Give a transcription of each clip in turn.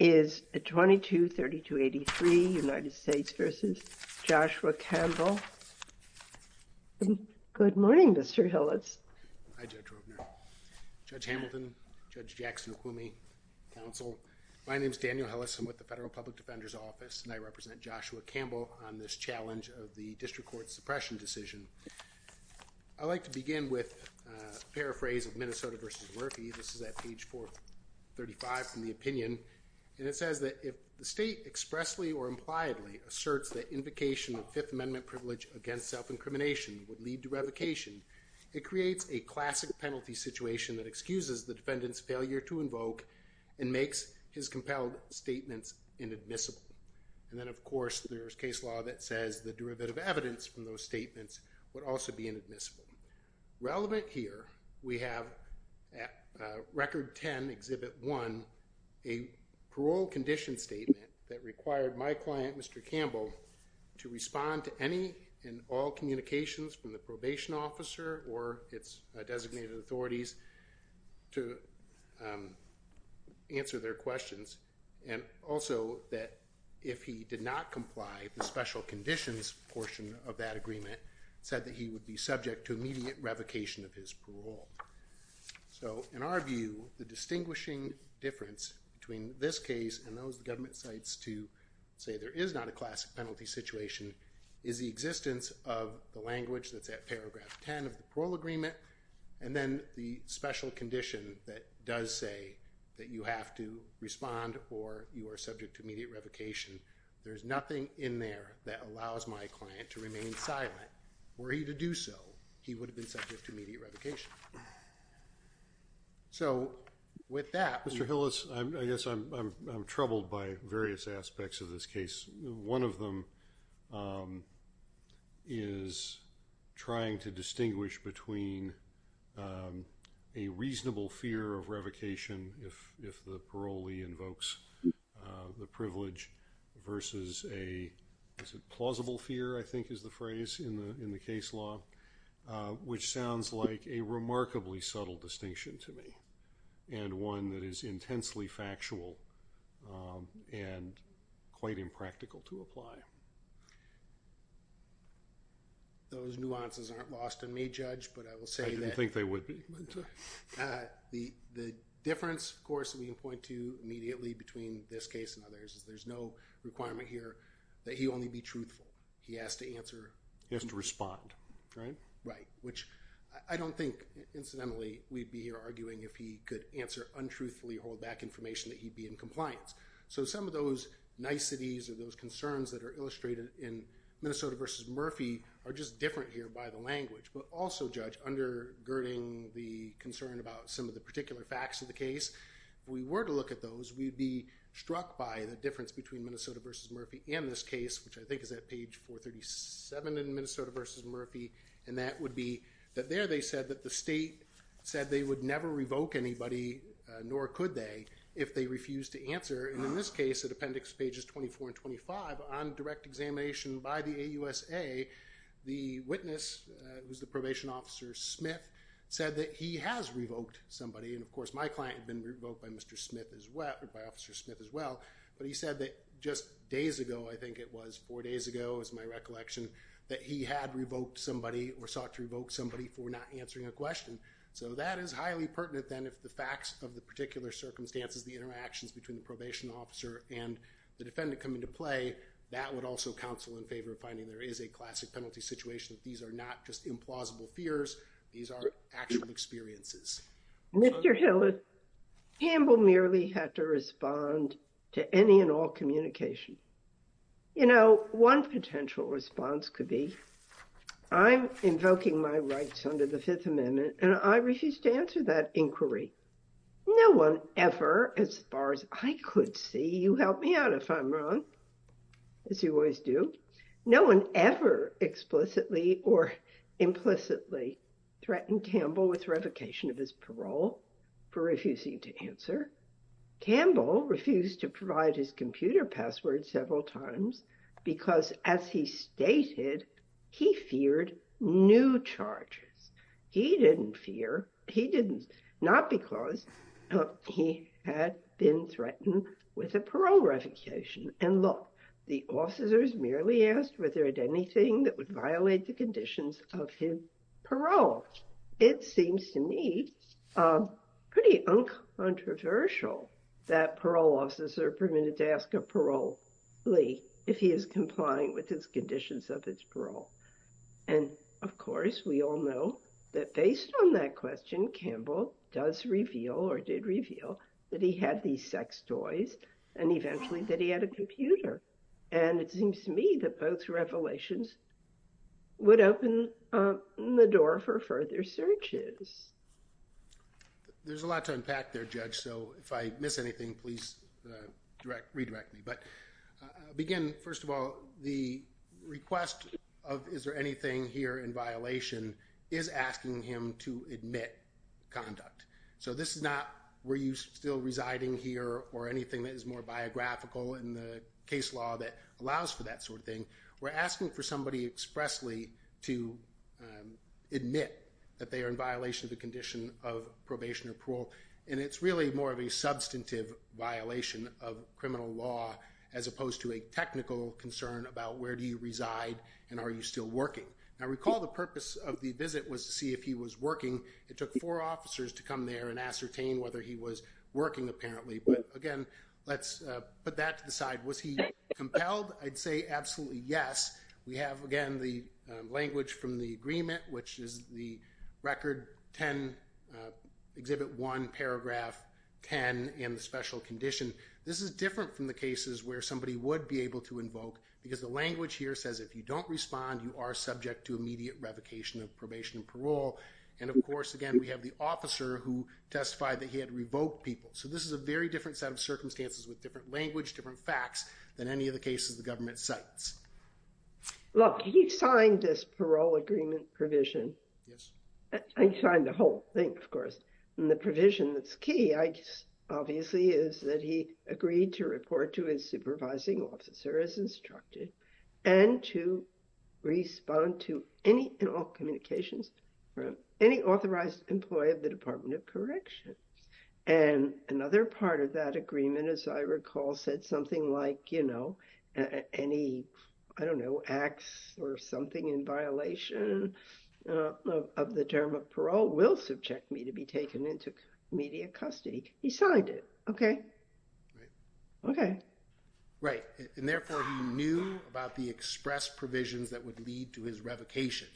is 223283 United States v. Joshua Campbell. Good morning Mr. Hillis. Hi Judge Rupner. Judge Hamilton, Judge Jackson, Acumi, Counsel. My name is Daniel Hillis. I'm with the Federal Public Defender's Office and I represent Joshua Campbell on this challenge of the District Court's suppression decision. I'd like to begin with a paraphrase of Minnesota v. Murphy. This is at page 435 from the opinion and it says that if the state expressly or impliedly asserts that invocation of Fifth Amendment privilege against self-incrimination would lead to revocation, it creates a classic penalty situation that excuses the defendant's failure to invoke and makes his compelled statements inadmissible. And then of course there's case law that says the derivative evidence from those statements would also be inadmissible. Relevant here, we have at Record 10, Exhibit 1, a parole condition statement that required my client Mr. Campbell to respond to any and all communications from the probation officer or its designated authorities to answer their questions and also that if he did not be subject to immediate revocation of his parole. So in our view, the distinguishing difference between this case and those government sites to say there is not a classic penalty situation is the existence of the language that's at paragraph 10 of the parole agreement and then the special condition that does say that you have to respond or you are subject to immediate revocation. There's nothing in there that allows my client to remain silent were he to do so, he would have been subject to immediate revocation. So with that... Mr. Hillis, I guess I'm troubled by various aspects of this case. One of them is trying to distinguish between a reasonable fear of revocation if the parolee invokes the privilege versus a plausible fear, I think is the phrase in the case law, which sounds like a remarkably subtle distinction to me and one that is intensely factual and quite impractical to apply. Those nuances aren't lost on me, Judge, but I will say that... I didn't think they would be. The difference, of course, we can point to immediately between this case and others is that there's no requirement here that he only be truthful. He has to answer... He has to respond, right? Right, which I don't think, incidentally, we'd be here arguing if he could answer untruthfully or hold back information that he'd be in compliance. So some of those niceties or those concerns that are illustrated in Minnesota versus Murphy are just different here by the language, but also, Judge, undergirding the concern about some of the particular facts of the case, if we were to look at those, we'd be struck by the difference between Minnesota versus Murphy and this case, which I think is at page 437 in Minnesota versus Murphy, and that would be that there they said that the state said they would never revoke anybody, nor could they, if they refused to answer, and in this case, at appendix pages 24 and 25, on direct examination by the AUSA, the witness, who's the probation officer, Smith, said that he has revoked somebody, and of course, my client had been revoked by Mr. Smith as well, by Officer Smith as well, but he said that just days ago, I think it was, four days ago is my recollection, that he had revoked somebody or sought to revoke somebody for not answering a question. So that is highly pertinent, then, if the facts of the particular circumstances, the interactions between the probation officer and the defendant come into play, that would also counsel in favor of finding there is a classic penalty situation, that these are not just implausible fears, these are actual experiences. Mr. Hillis, Campbell merely had to respond to any and all communication. You know, one potential response could be, I'm invoking my rights under the Fifth Amendment, and I refuse to answer that inquiry. No one ever, as far as I could see, you help me out if I'm wrong, as you always do, no one ever explicitly or implicitly threatened Campbell with revocation of his parole for refusing to answer. Campbell refused to provide his computer password several times, because as he stated, he feared new charges. He didn't fear, he didn't, not because he had been threatened with a parole revocation. And look, the officers merely asked whether there was anything that would violate the conditions of his parole. It seems to me pretty uncontroversial that parole officers are permitted to ask a parolee if he is compliant with his conditions of his parole. And of course, we all know that based on that question, Campbell does reveal or did reveal that he had these sex toys, and eventually that he had a computer. And it seems to me that both revelations would open the door for further searches. There's a lot to unpack there, Judge, so if I miss anything, please redirect me. But again, first of all, the request of is there anything here in violation is asking him to admit conduct. So this is not were you still residing here or anything that is more biographical in the case law that allows for that sort of thing. We're asking for somebody expressly to admit that they are in violation of the condition of probation or parole. And it's really more of a substantive violation of criminal law as opposed to a technical concern about where do you reside and are you still working. Now, recall the purpose of the visit was to see if he was working. It took four officers to come there and ascertain whether he was working apparently. But again, let's put that to the side. Was he compelled? I'd say absolutely yes. We have, again, the language from the agreement, which is the Record 10, Exhibit 1, Paragraph 10, and the special condition. This is different from the cases where somebody would be able to invoke because the language here says if you don't respond, you are subject to immediate revocation of probation and parole. And of course, again, we have the officer who testified that he had revoked people. So this is a very different set of circumstances with different language, different facts than any of the cases the government cites. Look, he signed this parole agreement provision. Yes. He signed the whole thing, of course. And the provision that's key, I guess, obviously, is that he agreed to report to his supervising officer as instructed and to respond to any and all communications from any authorized employee of the Department of Corrections. And another part of that agreement, as I recall, said something like, you know, any, I don't know, acts or something in violation of the term of parole will subject me to be taken into immediate custody. He signed it. Okay? Right. Okay. Right. And therefore, he knew about the express provisions that would lead to his revocation.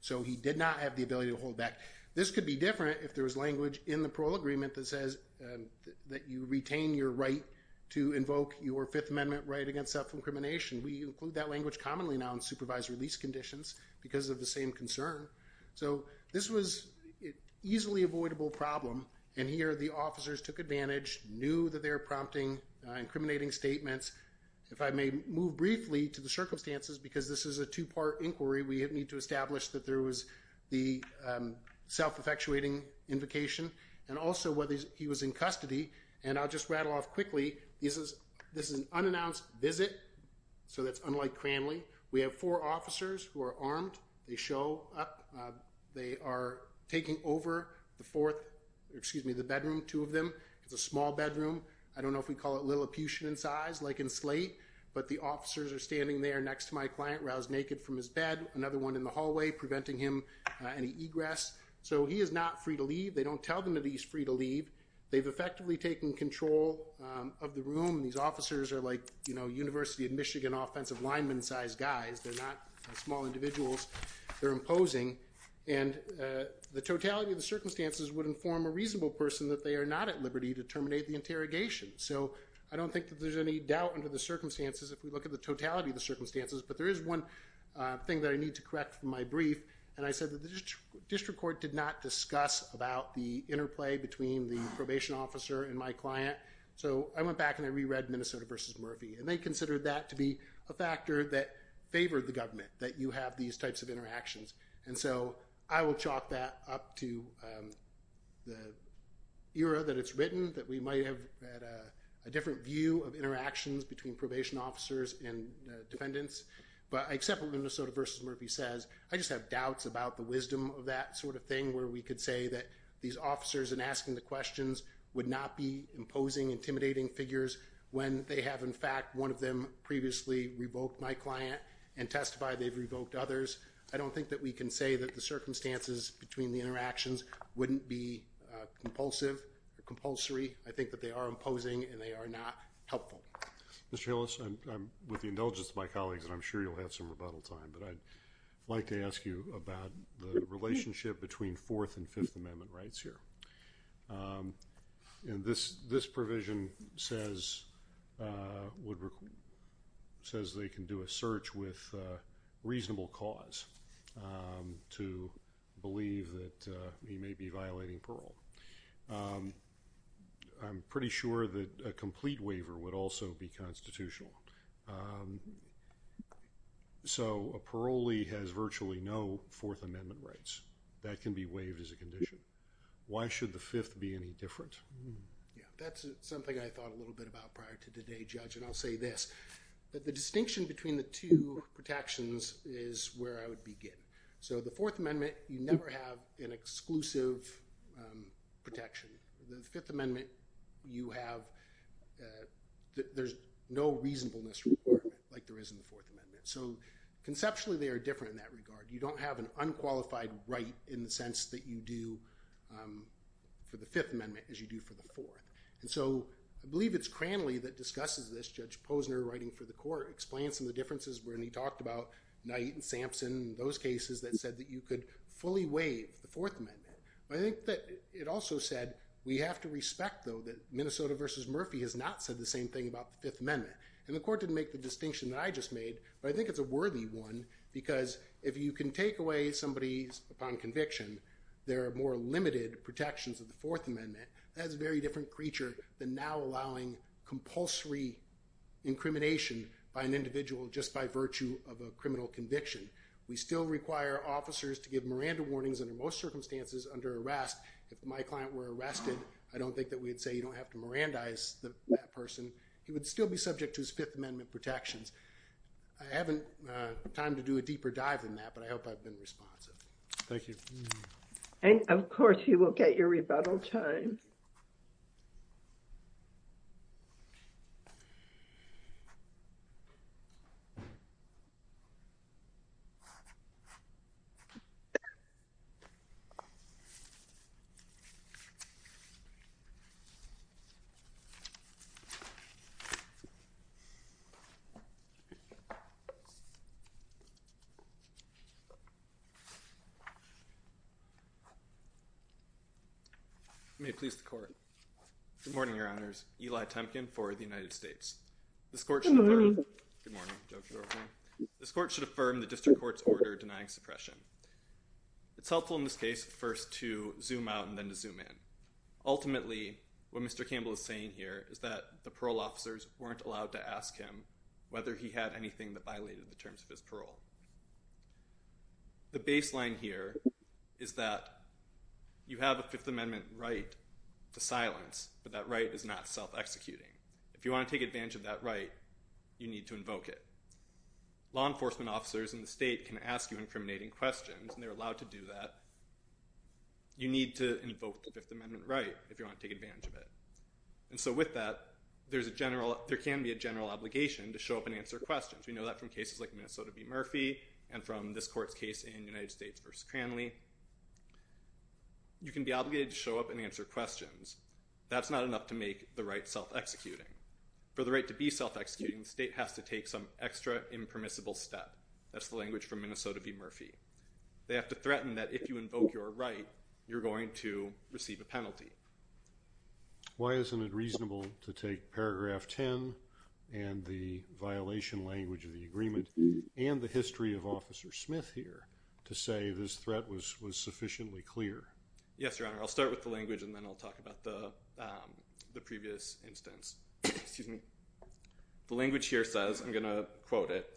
So he did not have the ability to hold back. This could be different if there was language in the parole agreement that says that you retain your right to invoke your Fifth Amendment right against self-incrimination. We include that language commonly now in supervised release conditions because of the same concern. So this was an easily avoidable problem. And here the officers took advantage, knew that they were prompting, incriminating statements. If I may move briefly to the circumstances, because this is a two-part inquiry, we need to establish that there was the self-infectuating invocation and also whether he was in custody. And I'll just rattle off quickly. This is an unannounced visit. So that's unlike Cranley. We have four officers who are armed. They show up. They are taking over the fourth, excuse me, the bedroom, two of them. It's a small bedroom. I don't know if we call it Lilliputian in size, like in Slate. But the officers are standing there next to my client, roused naked from his bed, another one in the hallway, preventing him any egress. So he is not free to leave. They don't tell them that he's free to leave. They've effectively taken control of the room. These officers are like, you know, University of Michigan offensive lineman-sized guys. They're not small individuals. They're imposing. And the totality of the circumstances would inform a reasonable person that they are not at liberty to terminate the interrogation. So I don't think that there's any doubt under the circumstances if we look at the totality of the circumstances. But there is one thing that I need to correct from my brief. And I said that the district court did not discuss about the interplay between the probation officer and my client. So I went back and I reread Minnesota v. Murphy. And they considered that to be a factor that favored the government, that you have these types of interactions. And so I will chalk that up to the era that it's written, that we might have had a different view of interactions between probation officers and defendants. But I accept what Minnesota v. Murphy says. I just have doubts about the wisdom of that sort of thing, where we could say that these officers, in asking the questions, would not be imposing intimidating figures when they have, in fact, one of them previously revoked my client and testified they've revoked others. I don't think that we can say that the circumstances between the interactions wouldn't be compulsive or compulsory. I think that they are imposing and they are not helpful. Mr. Hillis, with the indulgence of my colleagues, and I'm sure you'll have some rebuttal time, but I'd like to ask you about the relationship between Fourth and Fifth Amendment rights here. This provision says they can do a search with reasonable cause to believe that he may be violating parole. I'm pretty sure that a complete waiver would also be constitutional. So a parolee has virtually no Fourth Amendment rights. That can be waived as a condition. Why should the Fifth be any different? That's something I thought a little bit about prior to today, Judge, and I'll say this. The distinction between the two protections is where I would begin. So the Fourth Amendment, you never have an exclusive protection. The Fifth Amendment, there's no reasonableness report like there is in the Fourth Amendment. So conceptually, they are different in that regard. You don't have an unqualified right in the sense that you do for the Fifth Amendment as you do for the Fourth. And so I believe it's Cranley that discusses this. Judge Posner, writing for the court, explains some of the differences when he talked about Knight and Sampson, those cases that said that you could fully waive the Fourth Amendment. But I think that it also said we have to respect, though, that Minnesota v. Murphy has not said the same thing about the Fifth Amendment. And the court didn't make the distinction that I just made, but I think it's a worthy one because if you can take away somebody's upon conviction, there are more limited protections of the Fourth Amendment. That's a very different creature than now allowing compulsory incrimination by an individual just by virtue of a criminal conviction. We still require officers to give Miranda warnings under most circumstances under arrest. If my client were arrested, I don't think that we'd say you don't have to Mirandize that person. He would still be subject to his Fifth Amendment protections. I haven't time to do a deeper dive in that, but I hope I've been responsive. Thank you. And, of course, you will get your rebuttal time. May it please the court. Good morning, Your Honors. Eli Temkin for the United States. This court should affirm the district court's order denying suppression. It's helpful in this case first to zoom out and then to zoom in. Ultimately, what Mr. Campbell is saying here is that the parole officers weren't allowed to ask him whether he had anything that violated the terms of his parole. The baseline here is that you have a Fifth Amendment right to silence, but that right is not self-executing. If you want to take advantage of that right, you need to invoke it. Law enforcement officers in the state can ask you incriminating questions, and they're allowed to do that. You need to invoke the Fifth Amendment right if you want to take advantage of it. And so with that, there can be a general obligation to show up and answer questions. We know that from cases like Minnesota v. Murphy and from this court's case in United States v. Cranley. You can be obligated to show up and answer questions. That's not enough to make the right self-executing. For the right to be self-executing, the state has to take some extra impermissible step. That's the language from Minnesota v. Murphy. They have to threaten that if you invoke your right, you're going to receive a penalty. Why isn't it reasonable to take paragraph 10 and the violation language of the agreement and the history of Officer Smith here to say this threat was sufficiently clear? Yes, Your Honor. I'll start with the language, and then I'll talk about the previous instance. The language here says, I'm going to quote it,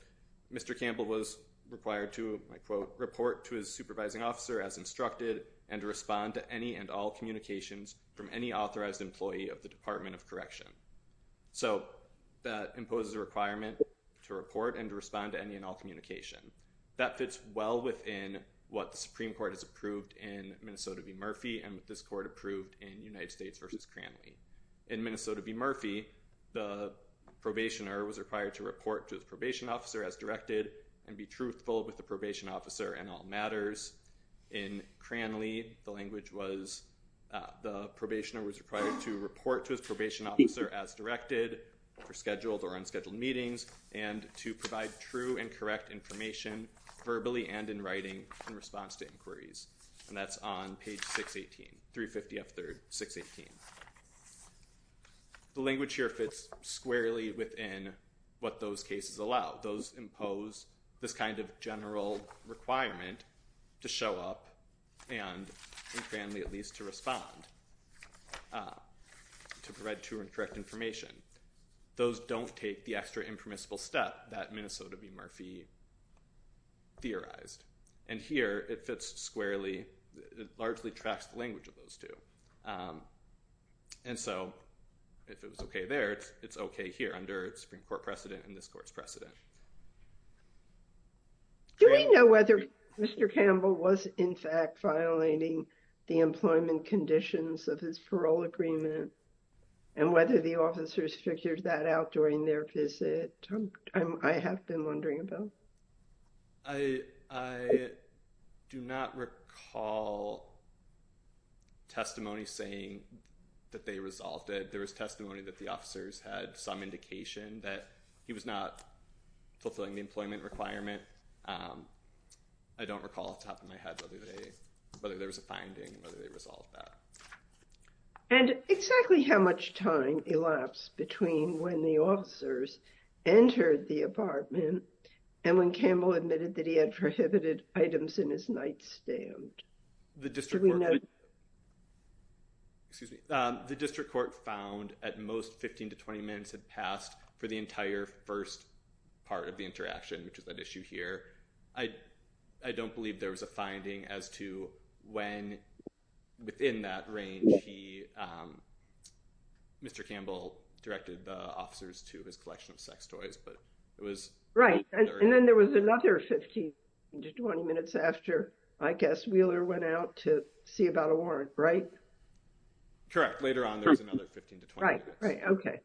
Mr. Campbell was required to, I quote, report to his supervising officer as instructed and to respond to any and all communications from any authorized employee of the Department of Correction. So that imposes a requirement to report and to respond to any and all communication. That fits well within what the Supreme Court has approved in Minnesota v. Murphy and what this court approved in United States v. Cranley. In Minnesota v. Murphy, the probationer was required to report to his probation officer as directed and be truthful with the probation officer in all matters. In Cranley, the language was the probationer was required to report to his probation officer as directed for scheduled or unscheduled meetings and to provide true and correct information verbally and in writing in response to inquiries. And that's on page 618, 350 F. 3rd, 618. The language here fits squarely within what those cases allow. Those impose this kind of general requirement to show up and in Cranley at least to respond to provide true and correct information. Those don't take the extra impermissible step that Minnesota v. Murphy theorized. And here it fits squarely. It largely tracks the language of those two. And so if it was okay there, it's okay here under Supreme Court precedent and this court's precedent. Do we know whether Mr. Campbell was in fact violating the employment conditions of his parole agreement and whether the officers figured that out during their visit? I have been wondering about. I do not recall testimony saying that they resolved it. There was testimony that the officers had some indication that he was not fulfilling the employment requirement. I don't recall off the top of my head whether there was a finding, whether they resolved that. And exactly how much time elapsed between when the officers entered the apartment and when Campbell admitted that he had prohibited items in his nightstand? The district court found at most 15 to 20 minutes had passed for the entire first part of the interaction, which is that issue here. I don't believe there was a finding as to when, within that range, he, Mr. Campbell, directed the officers to his collection of sex toys, but it was... Right. And then there was another 15 to 20 minutes after, I guess, Wheeler went out to see about a warrant, right? Correct. Later on, there was another 15 to 20 minutes. Right, right. Okay.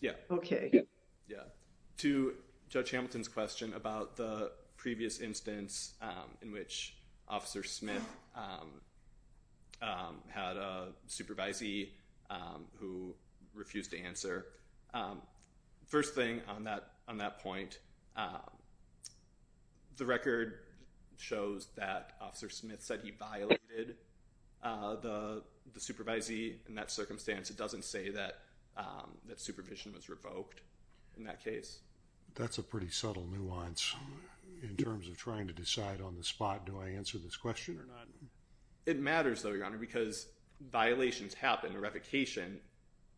Yeah. Okay. To Judge Hamilton's question about the previous instance in which Officer Smith had a supervisee who refused to answer. First thing on that point, the record shows that Officer Smith said he violated the supervisee. In that circumstance, it doesn't say that supervision was revoked in that case. That's a pretty subtle nuance in terms of trying to decide on the spot, do I answer this question or not? It matters, though, Your Honor, because violations happen. A revocation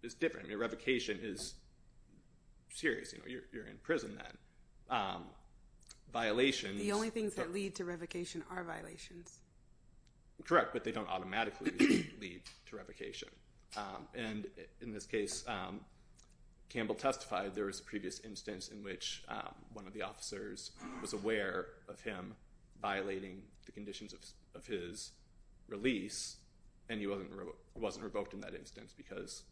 is different. A revocation is serious. You're in prison then. Violations... The only things that lead to revocation are violations. Correct, but they don't automatically lead to revocation. And in this case, Campbell testified there was a previous instance in which one of the officers was aware of him violating the conditions of his release, and he wasn't revoked in that instance because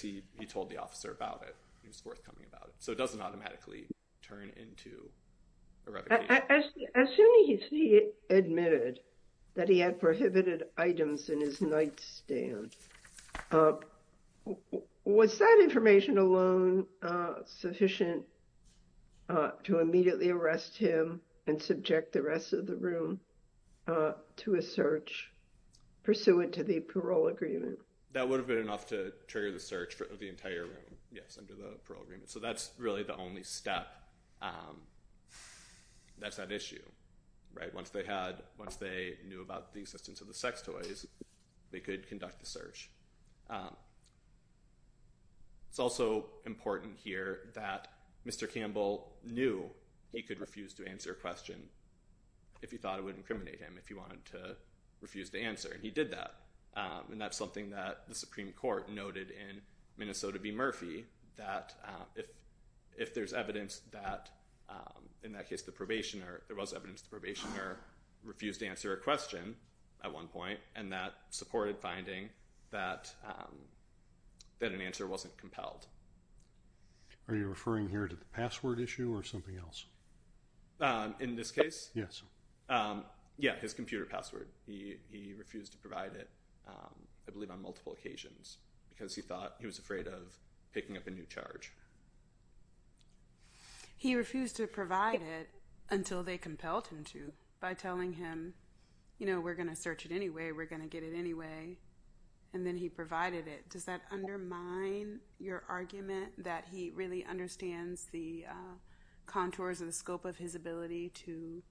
he told the officer about it, he was forthcoming about it. So it doesn't automatically turn into a revocation. As soon as he admitted that he had prohibited items in his nightstand, was that information alone sufficient to immediately arrest him and subject the rest of the room to a search pursuant to the parole agreement? That would have been enough to trigger the search of the entire room, yes, under the parole agreement. So that's really the only step that's at issue. Once they knew about the existence of the sex toys, they could conduct the search. It's also important here that Mr. Campbell knew he could refuse to answer a question if he thought it would incriminate him, if he wanted to refuse to answer, and he did that. And that's something that the Supreme Court noted in Minnesota v. Murphy, that if there's evidence that in that case the probationer, there was evidence the probationer refused to answer a question at one point, and that supported finding that an answer wasn't compelled. Are you referring here to the password issue or something else? In this case? Yes. Yeah, his computer password. He refused to provide it, I believe on multiple occasions, because he thought he was afraid of picking up a new charge. He refused to provide it until they compelled him to by telling him, you know, we're going to search it anyway, we're going to get it anyway, and then he provided it. Does that undermine your argument that he really understands the contours and the scope of his ability to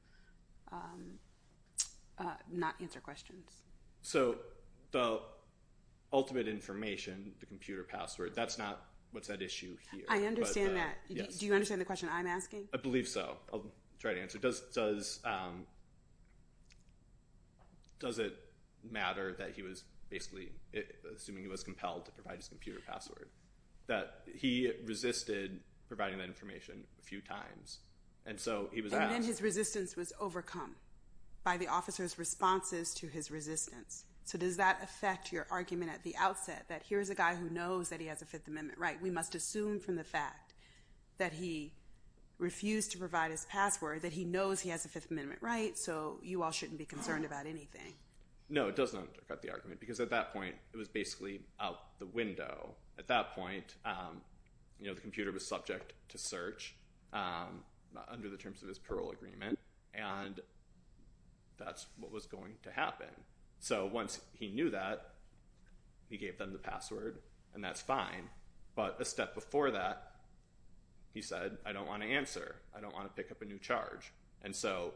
not answer questions? So the ultimate information, the computer password, that's not what's at issue here. I understand that. Do you understand the question I'm asking? I believe so. I'll try to answer. Does it matter that he was basically assuming he was compelled to provide his computer password, that he resisted providing that information a few times, and so he was asked? And then his resistance was overcome by the officer's responses to his resistance. So does that affect your argument at the outset that here's a guy who knows that he has a Fifth Amendment right? We must assume from the fact that he refused to provide his password that he knows he has a Fifth Amendment right, so you all shouldn't be concerned about anything. No, it doesn't affect the argument because at that point it was basically out the window. At that point, you know, the computer was subject to search under the terms of his parole agreement, and that's what was going to happen. So once he knew that, he gave them the password, and that's fine. But a step before that, he said, I don't want to answer. I don't want to pick up a new charge. And so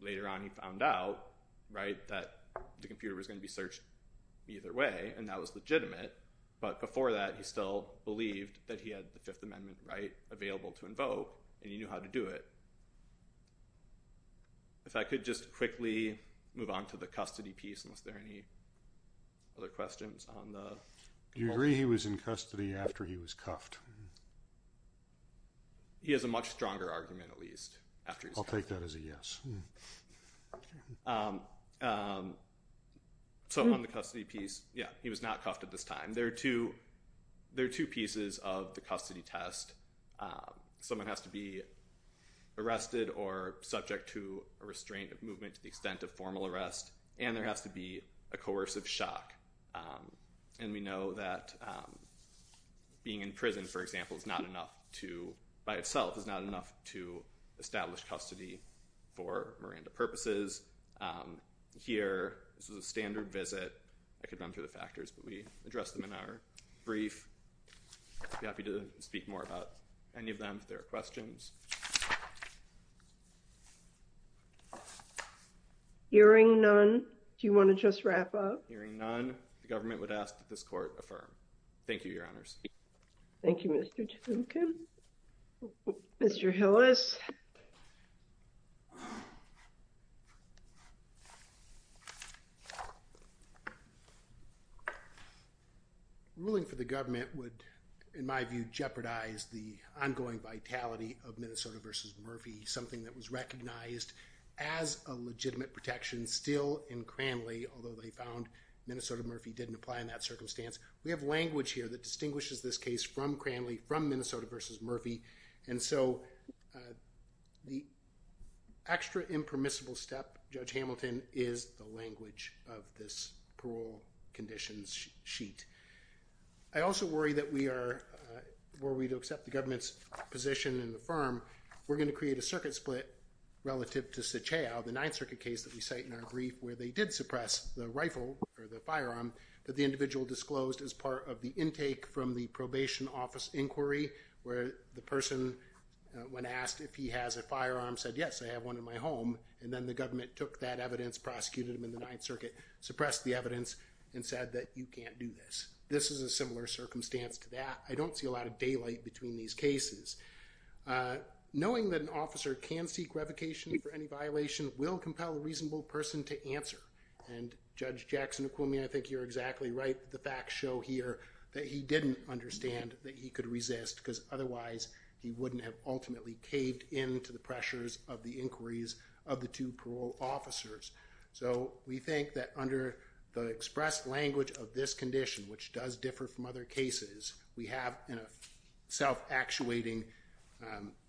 later on he found out that the computer was going to be searched either way, and that was legitimate. But before that, he still believed that he had the Fifth Amendment right available to invoke, and he knew how to do it. If I could just quickly move on to the custody piece, unless there are any other questions. Do you agree he was in custody after he was cuffed? He has a much stronger argument, at least, after he was cuffed. I'll take that as a yes. So on the custody piece, yeah, he was not cuffed at this time. There are two pieces of the custody test. Someone has to be arrested or subject to a restraint of movement to the extent of formal arrest, and there has to be a coercive shock. And we know that being in prison, for example, by itself is not enough to establish custody for Miranda purposes. Here, this was a standard visit. I could run through the factors, but we addressed them in our brief. I'd be happy to speak more about any of them if there are questions. Hearing none, do you want to just wrap up? Hearing none, the government would ask that this court affirm. Thank you, Your Honors. Thank you, Mr. Duncan. Mr. Hillis? Ruling for the government would, in my view, jeopardize the ongoing vitality of Minnesota v. Murphy, something that was recognized as a legitimate protection still in Cranley, although they found Minnesota Murphy didn't apply in that circumstance. We have language here that distinguishes this case from Cranley, from Minnesota v. Murphy, and so the extra impermissible step, Judge Hamilton, is the language of this parole conditions sheet. I also worry that we are, were we to accept the government's position and affirm, we're going to create a circuit split relative to Sucheo, the Ninth Circuit case that we cite in our brief where they did suppress the rifle or the firearm that the individual disclosed as part of the intake from the probation office inquiry where the person, when asked if he has a firearm, said, yes, I have one in my home, and then the government took that evidence, prosecuted him in the Ninth Circuit, suppressed the evidence, and said that you can't do this. This is a similar circumstance to that. I don't see a lot of daylight between these cases. Knowing that an officer can seek revocation for any violation will compel a reasonable person to answer, and Judge Jackson-Aquimi, I think you're exactly right. The facts show here that he didn't understand that he could resist, because otherwise he wouldn't have ultimately caved in to the pressures of the inquiries of the two parole officers. So we think that under the express language of this condition, which does differ from other cases, we have a self-actuating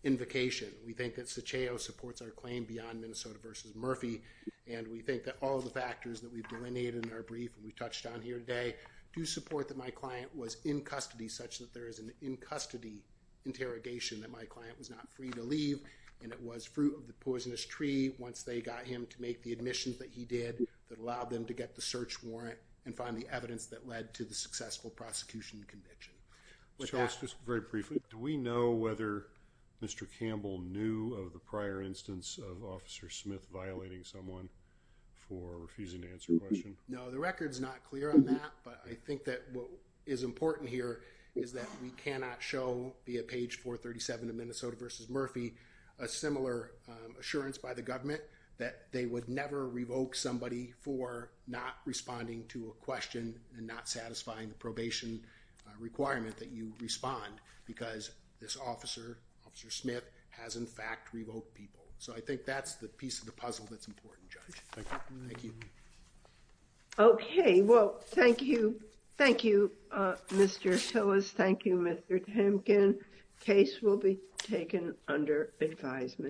invocation. We think that Sucheo supports our claim beyond Minnesota v. Murphy, and we think that all of the factors that we've delineated in our brief and we've touched on here today do support that my client was in custody such that there is an in-custody interrogation, that my client was not free to leave, and it was fruit of the poisonous tree, once they got him to make the admissions that he did that allowed them to get the search warrant and find the evidence that led to the successful prosecution conviction. Just very briefly, do we know whether Mr. Campbell knew of the prior instance of Officer Smith violating someone for refusing to answer a question? No, the record's not clear on that, but I think that what is important here is that we cannot show, via page 437 of Minnesota v. Murphy, a similar assurance by the government that they would never revoke somebody for not responding to a question and not satisfying the probation requirement that you respond because this officer, Officer Smith, has in fact revoked people. So I think that's the piece of the puzzle that's important, Judge. Thank you. Thank you. Okay. Well, thank you. Thank you, Mr. Tillis. Thank you, Mr. Temkin. Case will be taken under advisement.